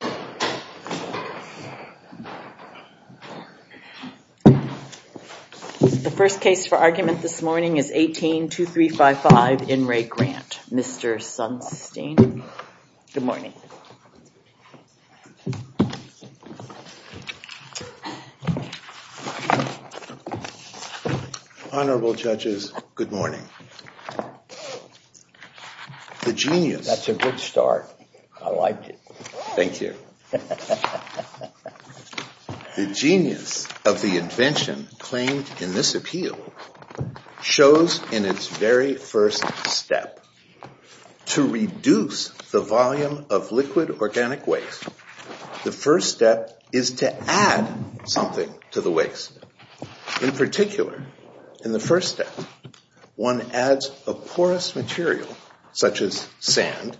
The first case for argument this morning is 18-2355, In Re Grant. Mr. Sunstein, good morning. Honorable Judges, good morning. The genius. That's a good start. I like it. Thank you. The genius of the invention claimed in this appeal shows in its very first step. To reduce the volume of liquid organic waste, the first step is to add something to the waste. In particular, in the first step, one adds a porous material, such as sand,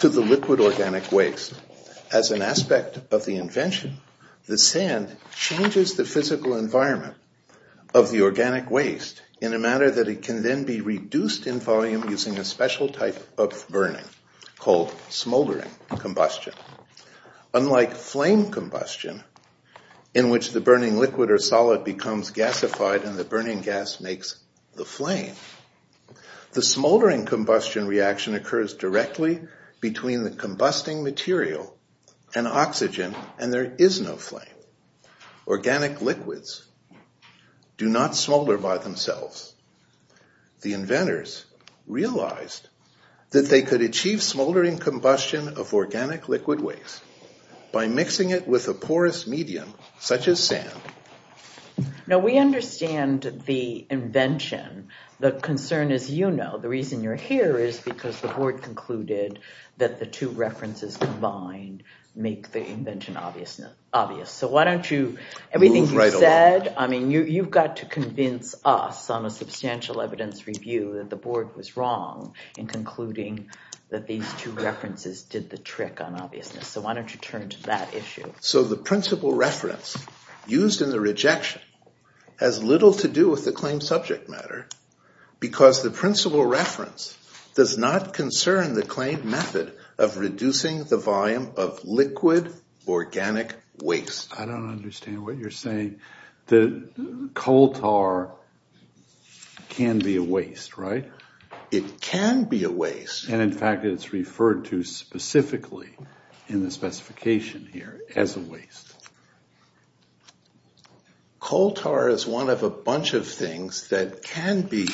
to the liquid organic waste. As an aspect of the invention, the sand changes the physical environment of the organic waste in a manner that it can then be reduced in volume using a special type of burning, called smoldering combustion. Unlike flame combustion, in which the burning liquid or solid becomes gasified and the burning gas makes the flame, the smoldering combustion reaction occurs directly between the combusting material and oxygen, and there is no flame. Organic liquids do not smolder by themselves. The inventors realized that they could achieve smoldering combustion of organic liquid waste by mixing it with a porous medium, such as sand. Now, we understand the invention. The concern is, you know, the reason you're here is because the board concluded that the two references combined make the invention obvious. So why don't you, everything you said, I mean, you've got to convince us on a substantial evidence review that the board was wrong in concluding that these two references did the trick on obviousness. So why don't you turn to that issue? So the principle reference used in the rejection has little to do with the claim subject matter because the principle reference does not concern the claim method of reducing the volume of liquid organic waste. I don't understand what you're saying. The coal tar can be a waste, right? It can be a waste. And in fact, it's referred to specifically in the specification here as a waste. Coal tar is one of a bunch of things that can be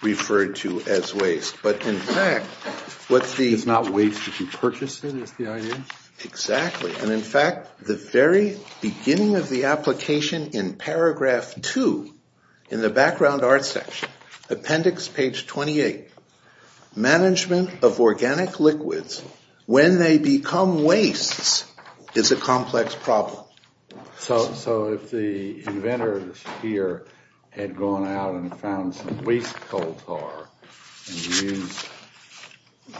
referred to as waste. But in fact, what's the... It's not waste if you purchase it, is the idea? Exactly. And in fact, the very beginning of the application in paragraph two in the background art section, appendix page 28, management of organic liquids when they become wastes is a complex problem. So if the inventors here had gone out and found some waste coal tar and used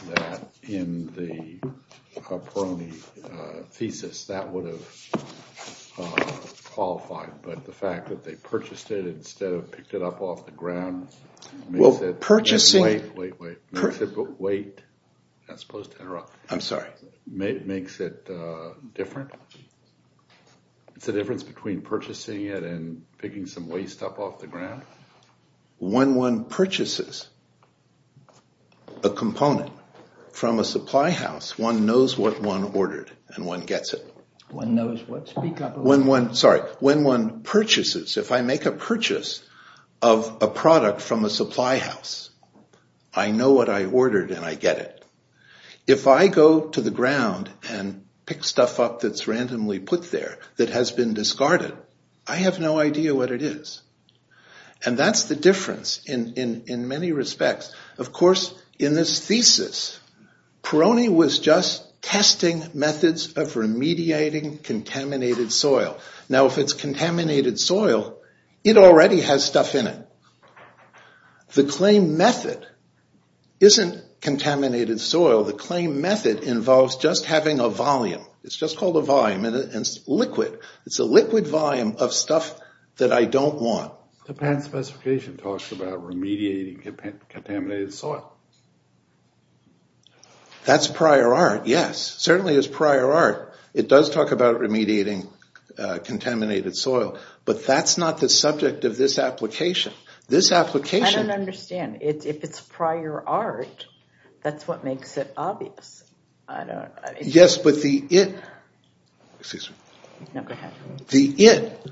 that in the Caproni thesis, that would have qualified, but the fact that they purchased it instead of picked it up off the ground... Well, purchasing... Wait, wait, wait. Wait. I'm supposed to interrupt. I'm sorry. Makes it different? It's the difference between purchasing it and picking some waste up off the ground? When one purchases a component from a supply house, one knows what one ordered and one gets it. One knows what... Speak up. Sorry. When one purchases, if I make a purchase of a product from a supply house, I know what I ordered and I get it. If I go to the ground and pick stuff up that's randomly put there that has been discarded, I have no idea what it is. And that's the difference in many respects. Of course, in this thesis, Peroni was just testing methods of remediating contaminated soil. Now, if it's contaminated soil, it already has stuff in it. The claim method isn't contaminated soil. The claim method involves just having a volume. It's just called a volume, and it's liquid. It's a liquid volume of stuff that I don't want. The patent specification talks about remediating contaminated soil. That's prior art, yes. Certainly is prior art. It does talk about remediating contaminated soil, but that's not the subject of this application. This application... I don't understand. If it's prior art, that's what makes it obvious. I don't... Yes, but the it... Excuse me. No, go ahead. The it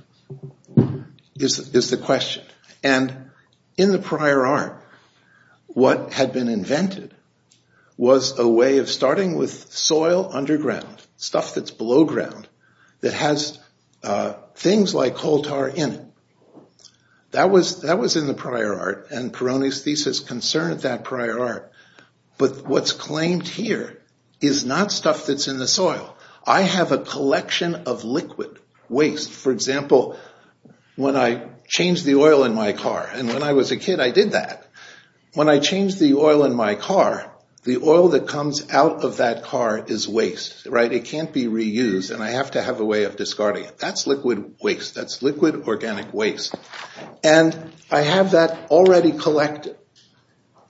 is the question, and in the prior art, what had been invented was a way of starting with soil underground, stuff that's below ground, that has things like coal tar in it. That was in the prior art, and Peroni's thesis concerned that prior art. But what's claimed here is not stuff that's in the soil. I have a collection of liquid waste. For example, when I changed the oil in my car, and when I was a kid, I did that. When I changed the oil in my car, the oil that comes out of that car is waste. It can't be reused, and I have to have a way of discarding it. That's liquid waste. That's liquid organic waste, and I have that already collected.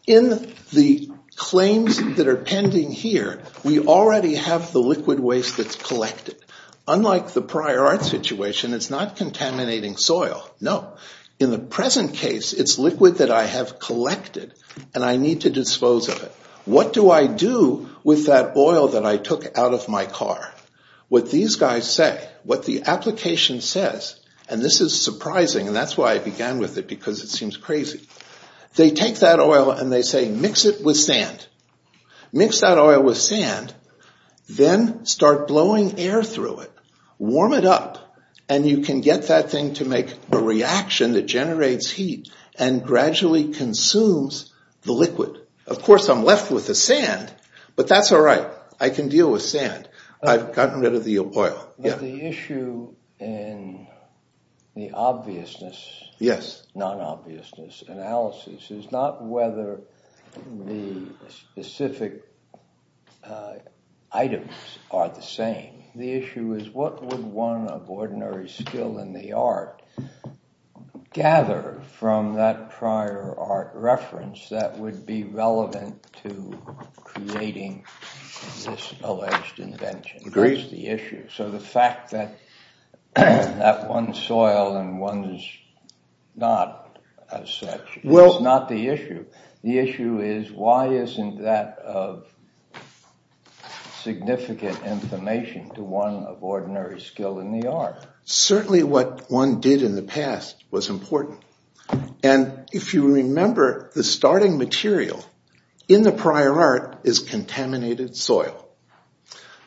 In the claims that are pending here, we already have the liquid waste that's collected. Unlike the prior art situation, it's not contaminating soil, no. In the present case, it's liquid that I have collected, and I need to dispose of it. What do I do with that oil that I took out of my car? What these guys say, what the application says, and this is surprising, and that's why I began with it, because it seems crazy. They take that oil, and they say, mix it with sand. Mix that oil with sand, then start blowing air through it. Warm it up, and you can get that thing to make a reaction that generates heat and gradually consumes the liquid. Of course, I'm left with the sand, but that's all right. I can deal with sand. I've gotten rid of the oil. The issue in the obviousness, non-obviousness analysis, is not whether the specific items are the same. The issue is, what would one of ordinary skill in the art gather from that prior art reference that would be relevant to creating this alleged invention? That's the issue. So the fact that one's soil and one's not as such is not the issue. The issue is, why isn't that of significant information to one of ordinary skill in the art? Certainly what one did in the past was important. And if you remember, the starting material in the prior art is contaminated soil.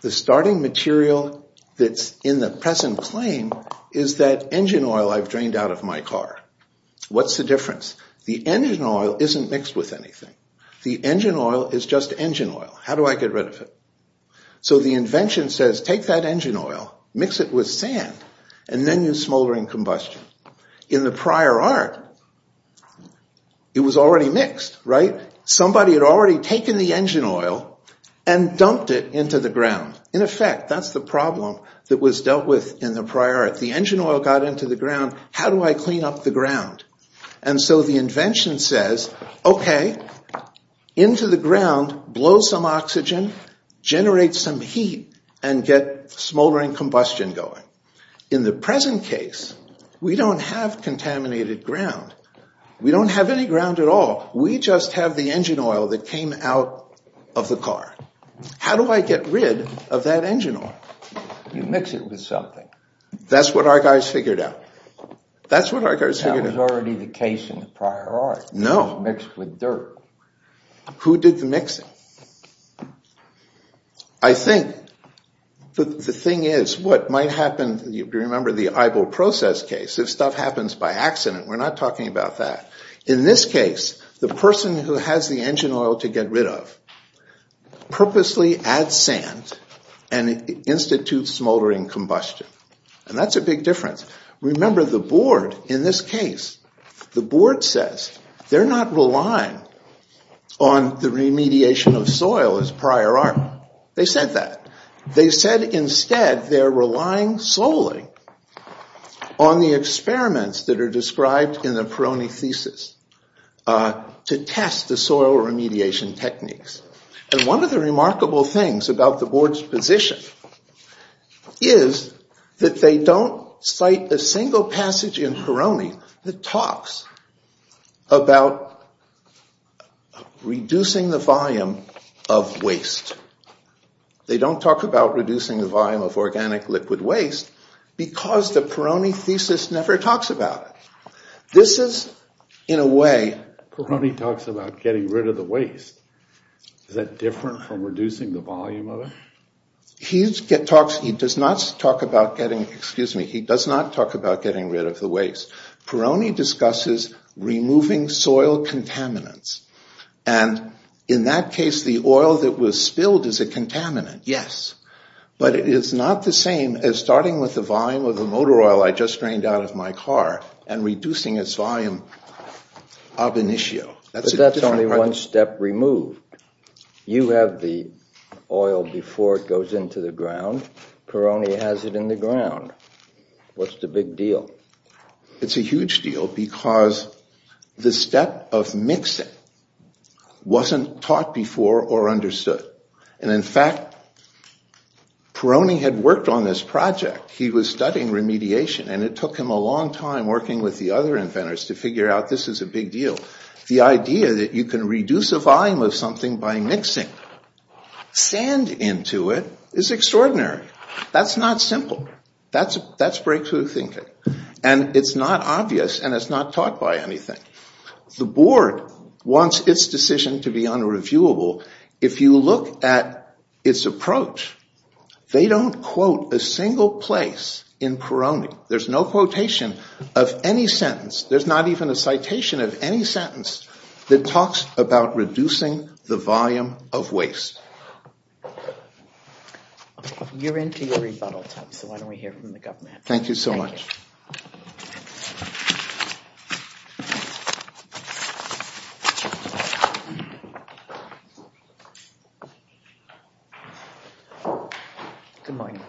The starting material that's in the present claim is that engine oil I've drained out of my car. What's the difference? The engine oil isn't mixed with anything. The engine oil is just engine oil. How do I get rid of it? So the invention says, take that engine oil, mix it with sand, and then use smoldering combustion. In the prior art, it was already mixed, right? Somebody had already taken the engine oil and dumped it into the ground. In effect, that's the problem that was dealt with in the prior art. The engine oil got into the ground. How do I clean up the ground? And so the invention says, OK, into the ground, blow some oxygen, generate some heat, and get smoldering combustion going. In the present case, we don't have contaminated ground. We don't have any ground at all. We just have the engine oil that came out of the car. How do I get rid of that engine oil? You mix it with something. That's what our guys figured out. That's what our guys figured out. That was already the case in the prior art. No. It was mixed with dirt. Who did the mixing? I think the thing is, what might happen, you remember the Eibel process case, if stuff happens by accident, we're not talking about that. In this case, the person who has the engine oil to get rid of purposely adds sand and institutes smoldering combustion. And that's a big difference. Remember, the board in this case, the board says they're not relying on the remediation of soil as prior art. They said that. They said, instead, they're relying solely on the experiments that are described in the Peroni thesis to test the soil remediation techniques. And one of the remarkable things about the board's position is that they don't cite a single passage in Peroni that talks about reducing the volume of waste. They don't talk about reducing the volume of organic liquid waste because the Peroni thesis never talks about it. This is, in a way, Peroni talks about getting rid of the waste. Is that different from reducing the volume of it? He does not talk about getting rid of the waste. Peroni discusses removing soil contaminants. And in that case, the oil that was spilled is a contaminant, yes. But it is not the same as starting with the volume of the motor oil I just drained out of my car and reducing its volume ab initio. But that's only one step removed. You have the oil before it goes into the ground. Peroni has it in the ground. What's the big deal? It's a huge deal because the step of mixing wasn't taught before or understood. And in fact, Peroni had worked on this project. He was studying remediation. And it took him a long time working with the other inventors to figure out this is a big deal. The idea that you can reduce the volume of something by mixing sand into it is extraordinary. That's not simple. That's breakthrough thinking. And it's not obvious. And it's not taught by anything. The board wants its decision to be unreviewable. If you look at its approach, they don't quote a single place in Peroni. There's no quotation of any sentence. There's not even a citation of any sentence that talks about reducing the volume of waste. You're into your rebuttal time. So why don't we hear from the government? Thank you so much. Good morning.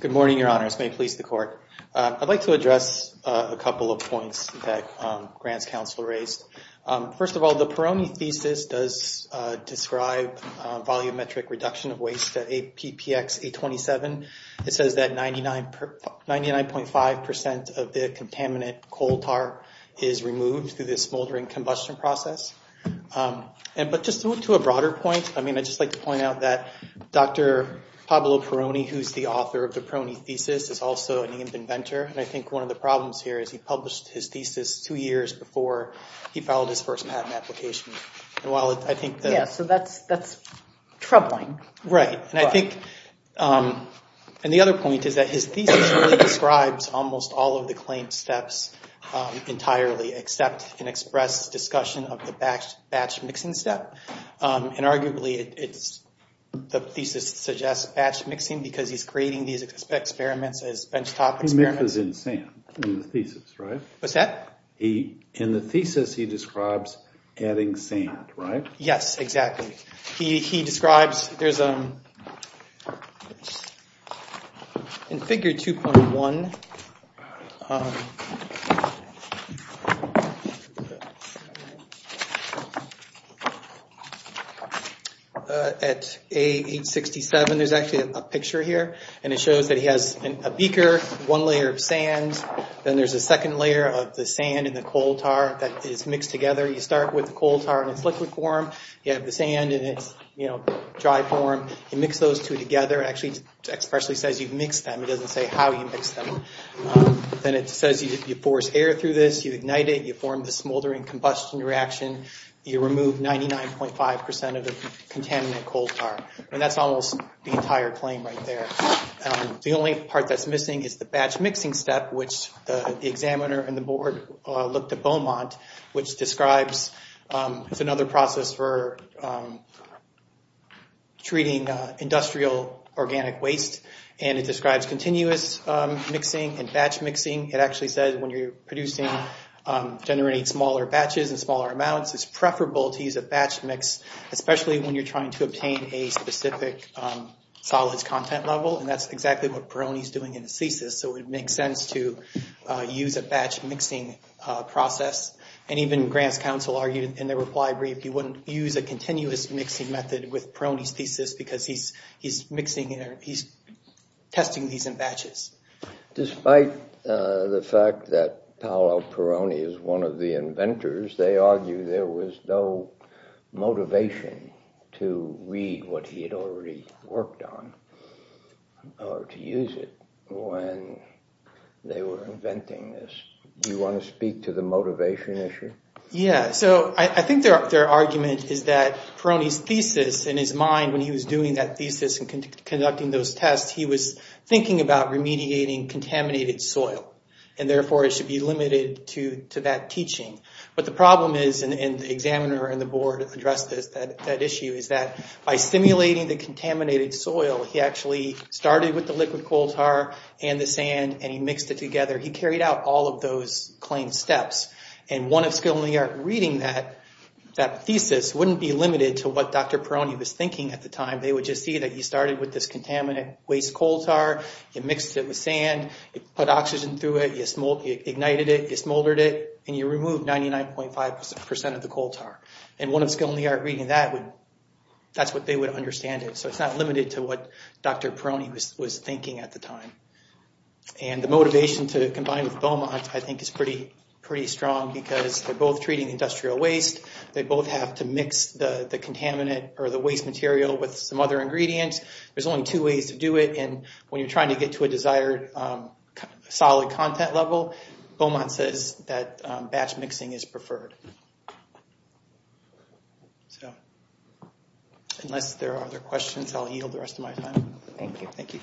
Good morning, Your Honors. May it please the court. I'd like to address a couple of points that Grant's counsel raised. First of all, the Peroni thesis does describe volumetric reduction of waste at PPX 827. It says that 99.5% of the contaminant coal tar is removed through the smoldering combustion process. But just to a broader point, I mean, I'd just like to point out that Dr. Pablo Peroni, who's the author of the Peroni thesis, is also an inventor. And I think one of the problems here is he published his thesis two years before he filed his first patent application. And while I think that's troubling. Right. And the other point is that his thesis describes almost all of the claim steps entirely, except an express discussion of the batch mixing step. And arguably, the thesis suggests batch mixing because he's creating these experiments as benchtop experiments. He mixes in sand in the thesis, right? What's that? In the thesis, he describes adding sand, right? Yes, exactly. He describes, there's a, in figure 2.1, at A867, there's actually a picture here. And it shows that he has a beaker, one layer of sand. Then there's a second layer of the sand and the coal tar that is mixed together. You start with the coal tar in its liquid form. You have the sand in its dry form. You mix those two together. Actually, it expressly says you mix them. It doesn't say how you mix them. Then it says you force air through this. You ignite it. You form the smoldering combustion reaction. You remove 99.5% of the contaminant coal tar. And that's almost the entire claim right there. The only part that's missing is the batch mixing step, which the examiner and the board looked at Beaumont, which describes, it's another process for treating industrial organic waste. And it describes continuous mixing and batch mixing. It actually says when you're producing, generating smaller batches in smaller amounts, it's preferable to use a batch mix, especially when you're trying to obtain a specific solids content level. And that's exactly what Peroni's doing in his thesis. So it makes sense to use a batch mixing process. And even Grant's counsel argued in their reply brief he wouldn't use a continuous mixing method with Peroni's thesis because he's testing these in batches. Despite the fact that Paolo Peroni is one of the inventors, they argue there was no motivation to read what he had already worked on or to use it when they were inventing this. Do you want to speak to the motivation issue? Yeah, so I think their argument is that Peroni's thesis in his mind when he was doing that thesis and conducting those tests, he was thinking about remediating contaminated soil. And therefore, it should be limited to that teaching. But the problem is, and the examiner and the board addressed that issue, is that by simulating the contaminated soil, he actually started with the liquid coal tar and the sand and he mixed it together. He carried out all of those claimed steps. And one of skill in the art reading that thesis wouldn't be limited to what Dr. Peroni was thinking at the time. They would just see that you started with this contaminant waste coal tar, you mixed it with sand, you put oxygen through it, you ignited it, you smoldered it, and you removed 99.5% of the coal tar. And one of skill in the art reading that, that's what they would understand it. So it's not limited to what Dr. Peroni was thinking at the time. And the motivation to combine with Beaumont, I think, is pretty strong because they're both treating industrial waste. They both have to mix the contaminant or the waste material with some other ingredients. There's only two ways to do it. And when you're trying to get to a desired solid content level, Beaumont says that batch mixing is preferred. Unless there are other questions, I'll yield the rest of my time. Thank you. Thank you.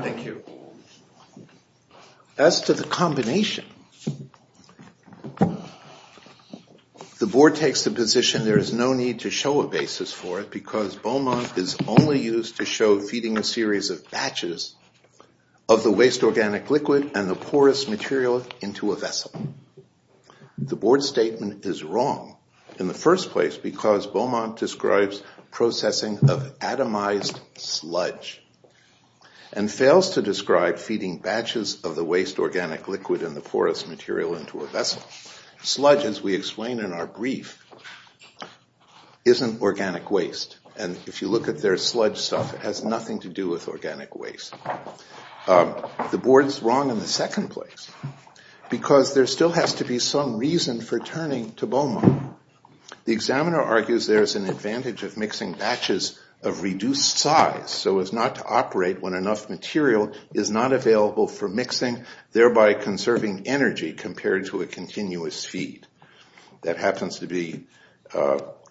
Thank you. As to the combination, the board takes the position and there is no need to show a basis for it because Beaumont is only used to show feeding a series of batches of the waste organic liquid and the porous material into a vessel. The board statement is wrong in the first place because Beaumont describes processing of atomized sludge and fails to describe feeding batches of the waste organic liquid and the porous material into a vessel. Sludge, as we explain in our brief, isn't organic waste. And if you look at their sludge stuff, it has nothing to do with organic waste. The board is wrong in the second place because there still has to be some reason for turning to Beaumont. The examiner argues there is an advantage of mixing batches of reduced size so as not to operate when enough material is not available for mixing, thereby conserving energy compared to a continuous feed. That happens to be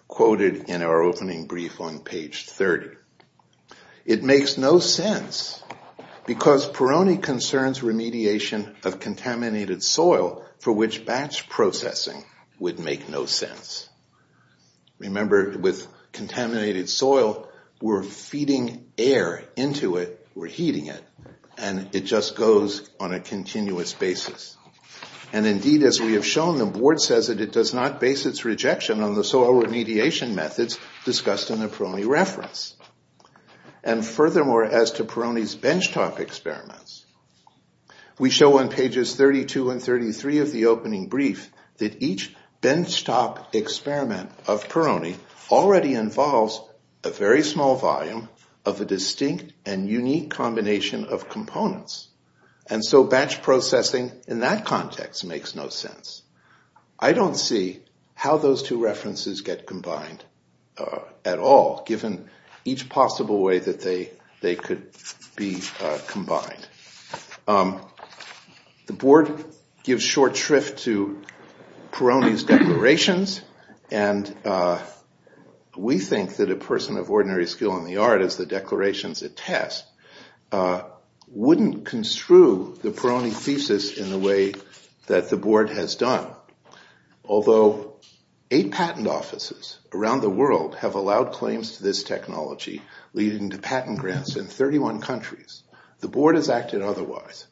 quoted in our opening brief on page 30. It makes no sense because Peroni concerns remediation of contaminated soil for which batch processing would make no sense. Remember, with contaminated soil, we're feeding air into it. We're heating it. And it just goes on a continuous basis. And indeed, as we have shown, the board says that it does not base its rejection on the soil remediation methods discussed in the Peroni reference. And furthermore, as to Peroni's benchtop experiments, we show on pages 32 and 33 of the opening brief that each benchtop experiment of Peroni already involves a very small volume of a distinct and unique combination of components. And so batch processing in that context makes no sense. I don't see how those two references get combined at all, given each possible way that they could be combined. The board gives short shrift to Peroni's declarations. And we think that a person of ordinary skill in the art, as the declarations attest, wouldn't construe the Peroni thesis in the way that the board has done. Although eight patent offices around the world have allowed claims to this technology, leading to patent grants in 31 countries, the board has acted otherwise.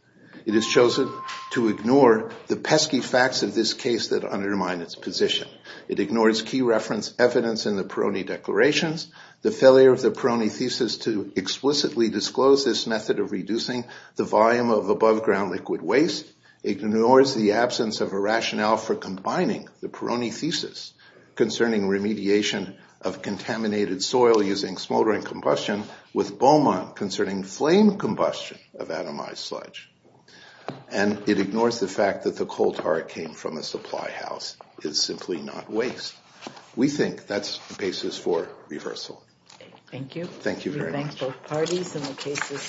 It has chosen to ignore the pesky facts of this case that undermine its position. It ignores key reference evidence in the Peroni declarations. The failure of the Peroni thesis to explicitly disclose this method of reducing the volume of above ground liquid waste ignores the absence of a rationale for combining the Peroni thesis concerning remediation of contaminated soil using smoldering combustion with Beaumont concerning flame combustion of atomized sludge. And it ignores the fact that the coal tar came from a supply house. It's simply not waste. We think that's the basis for reversal. Thank you. Thank you very much. We thank both parties and the cases.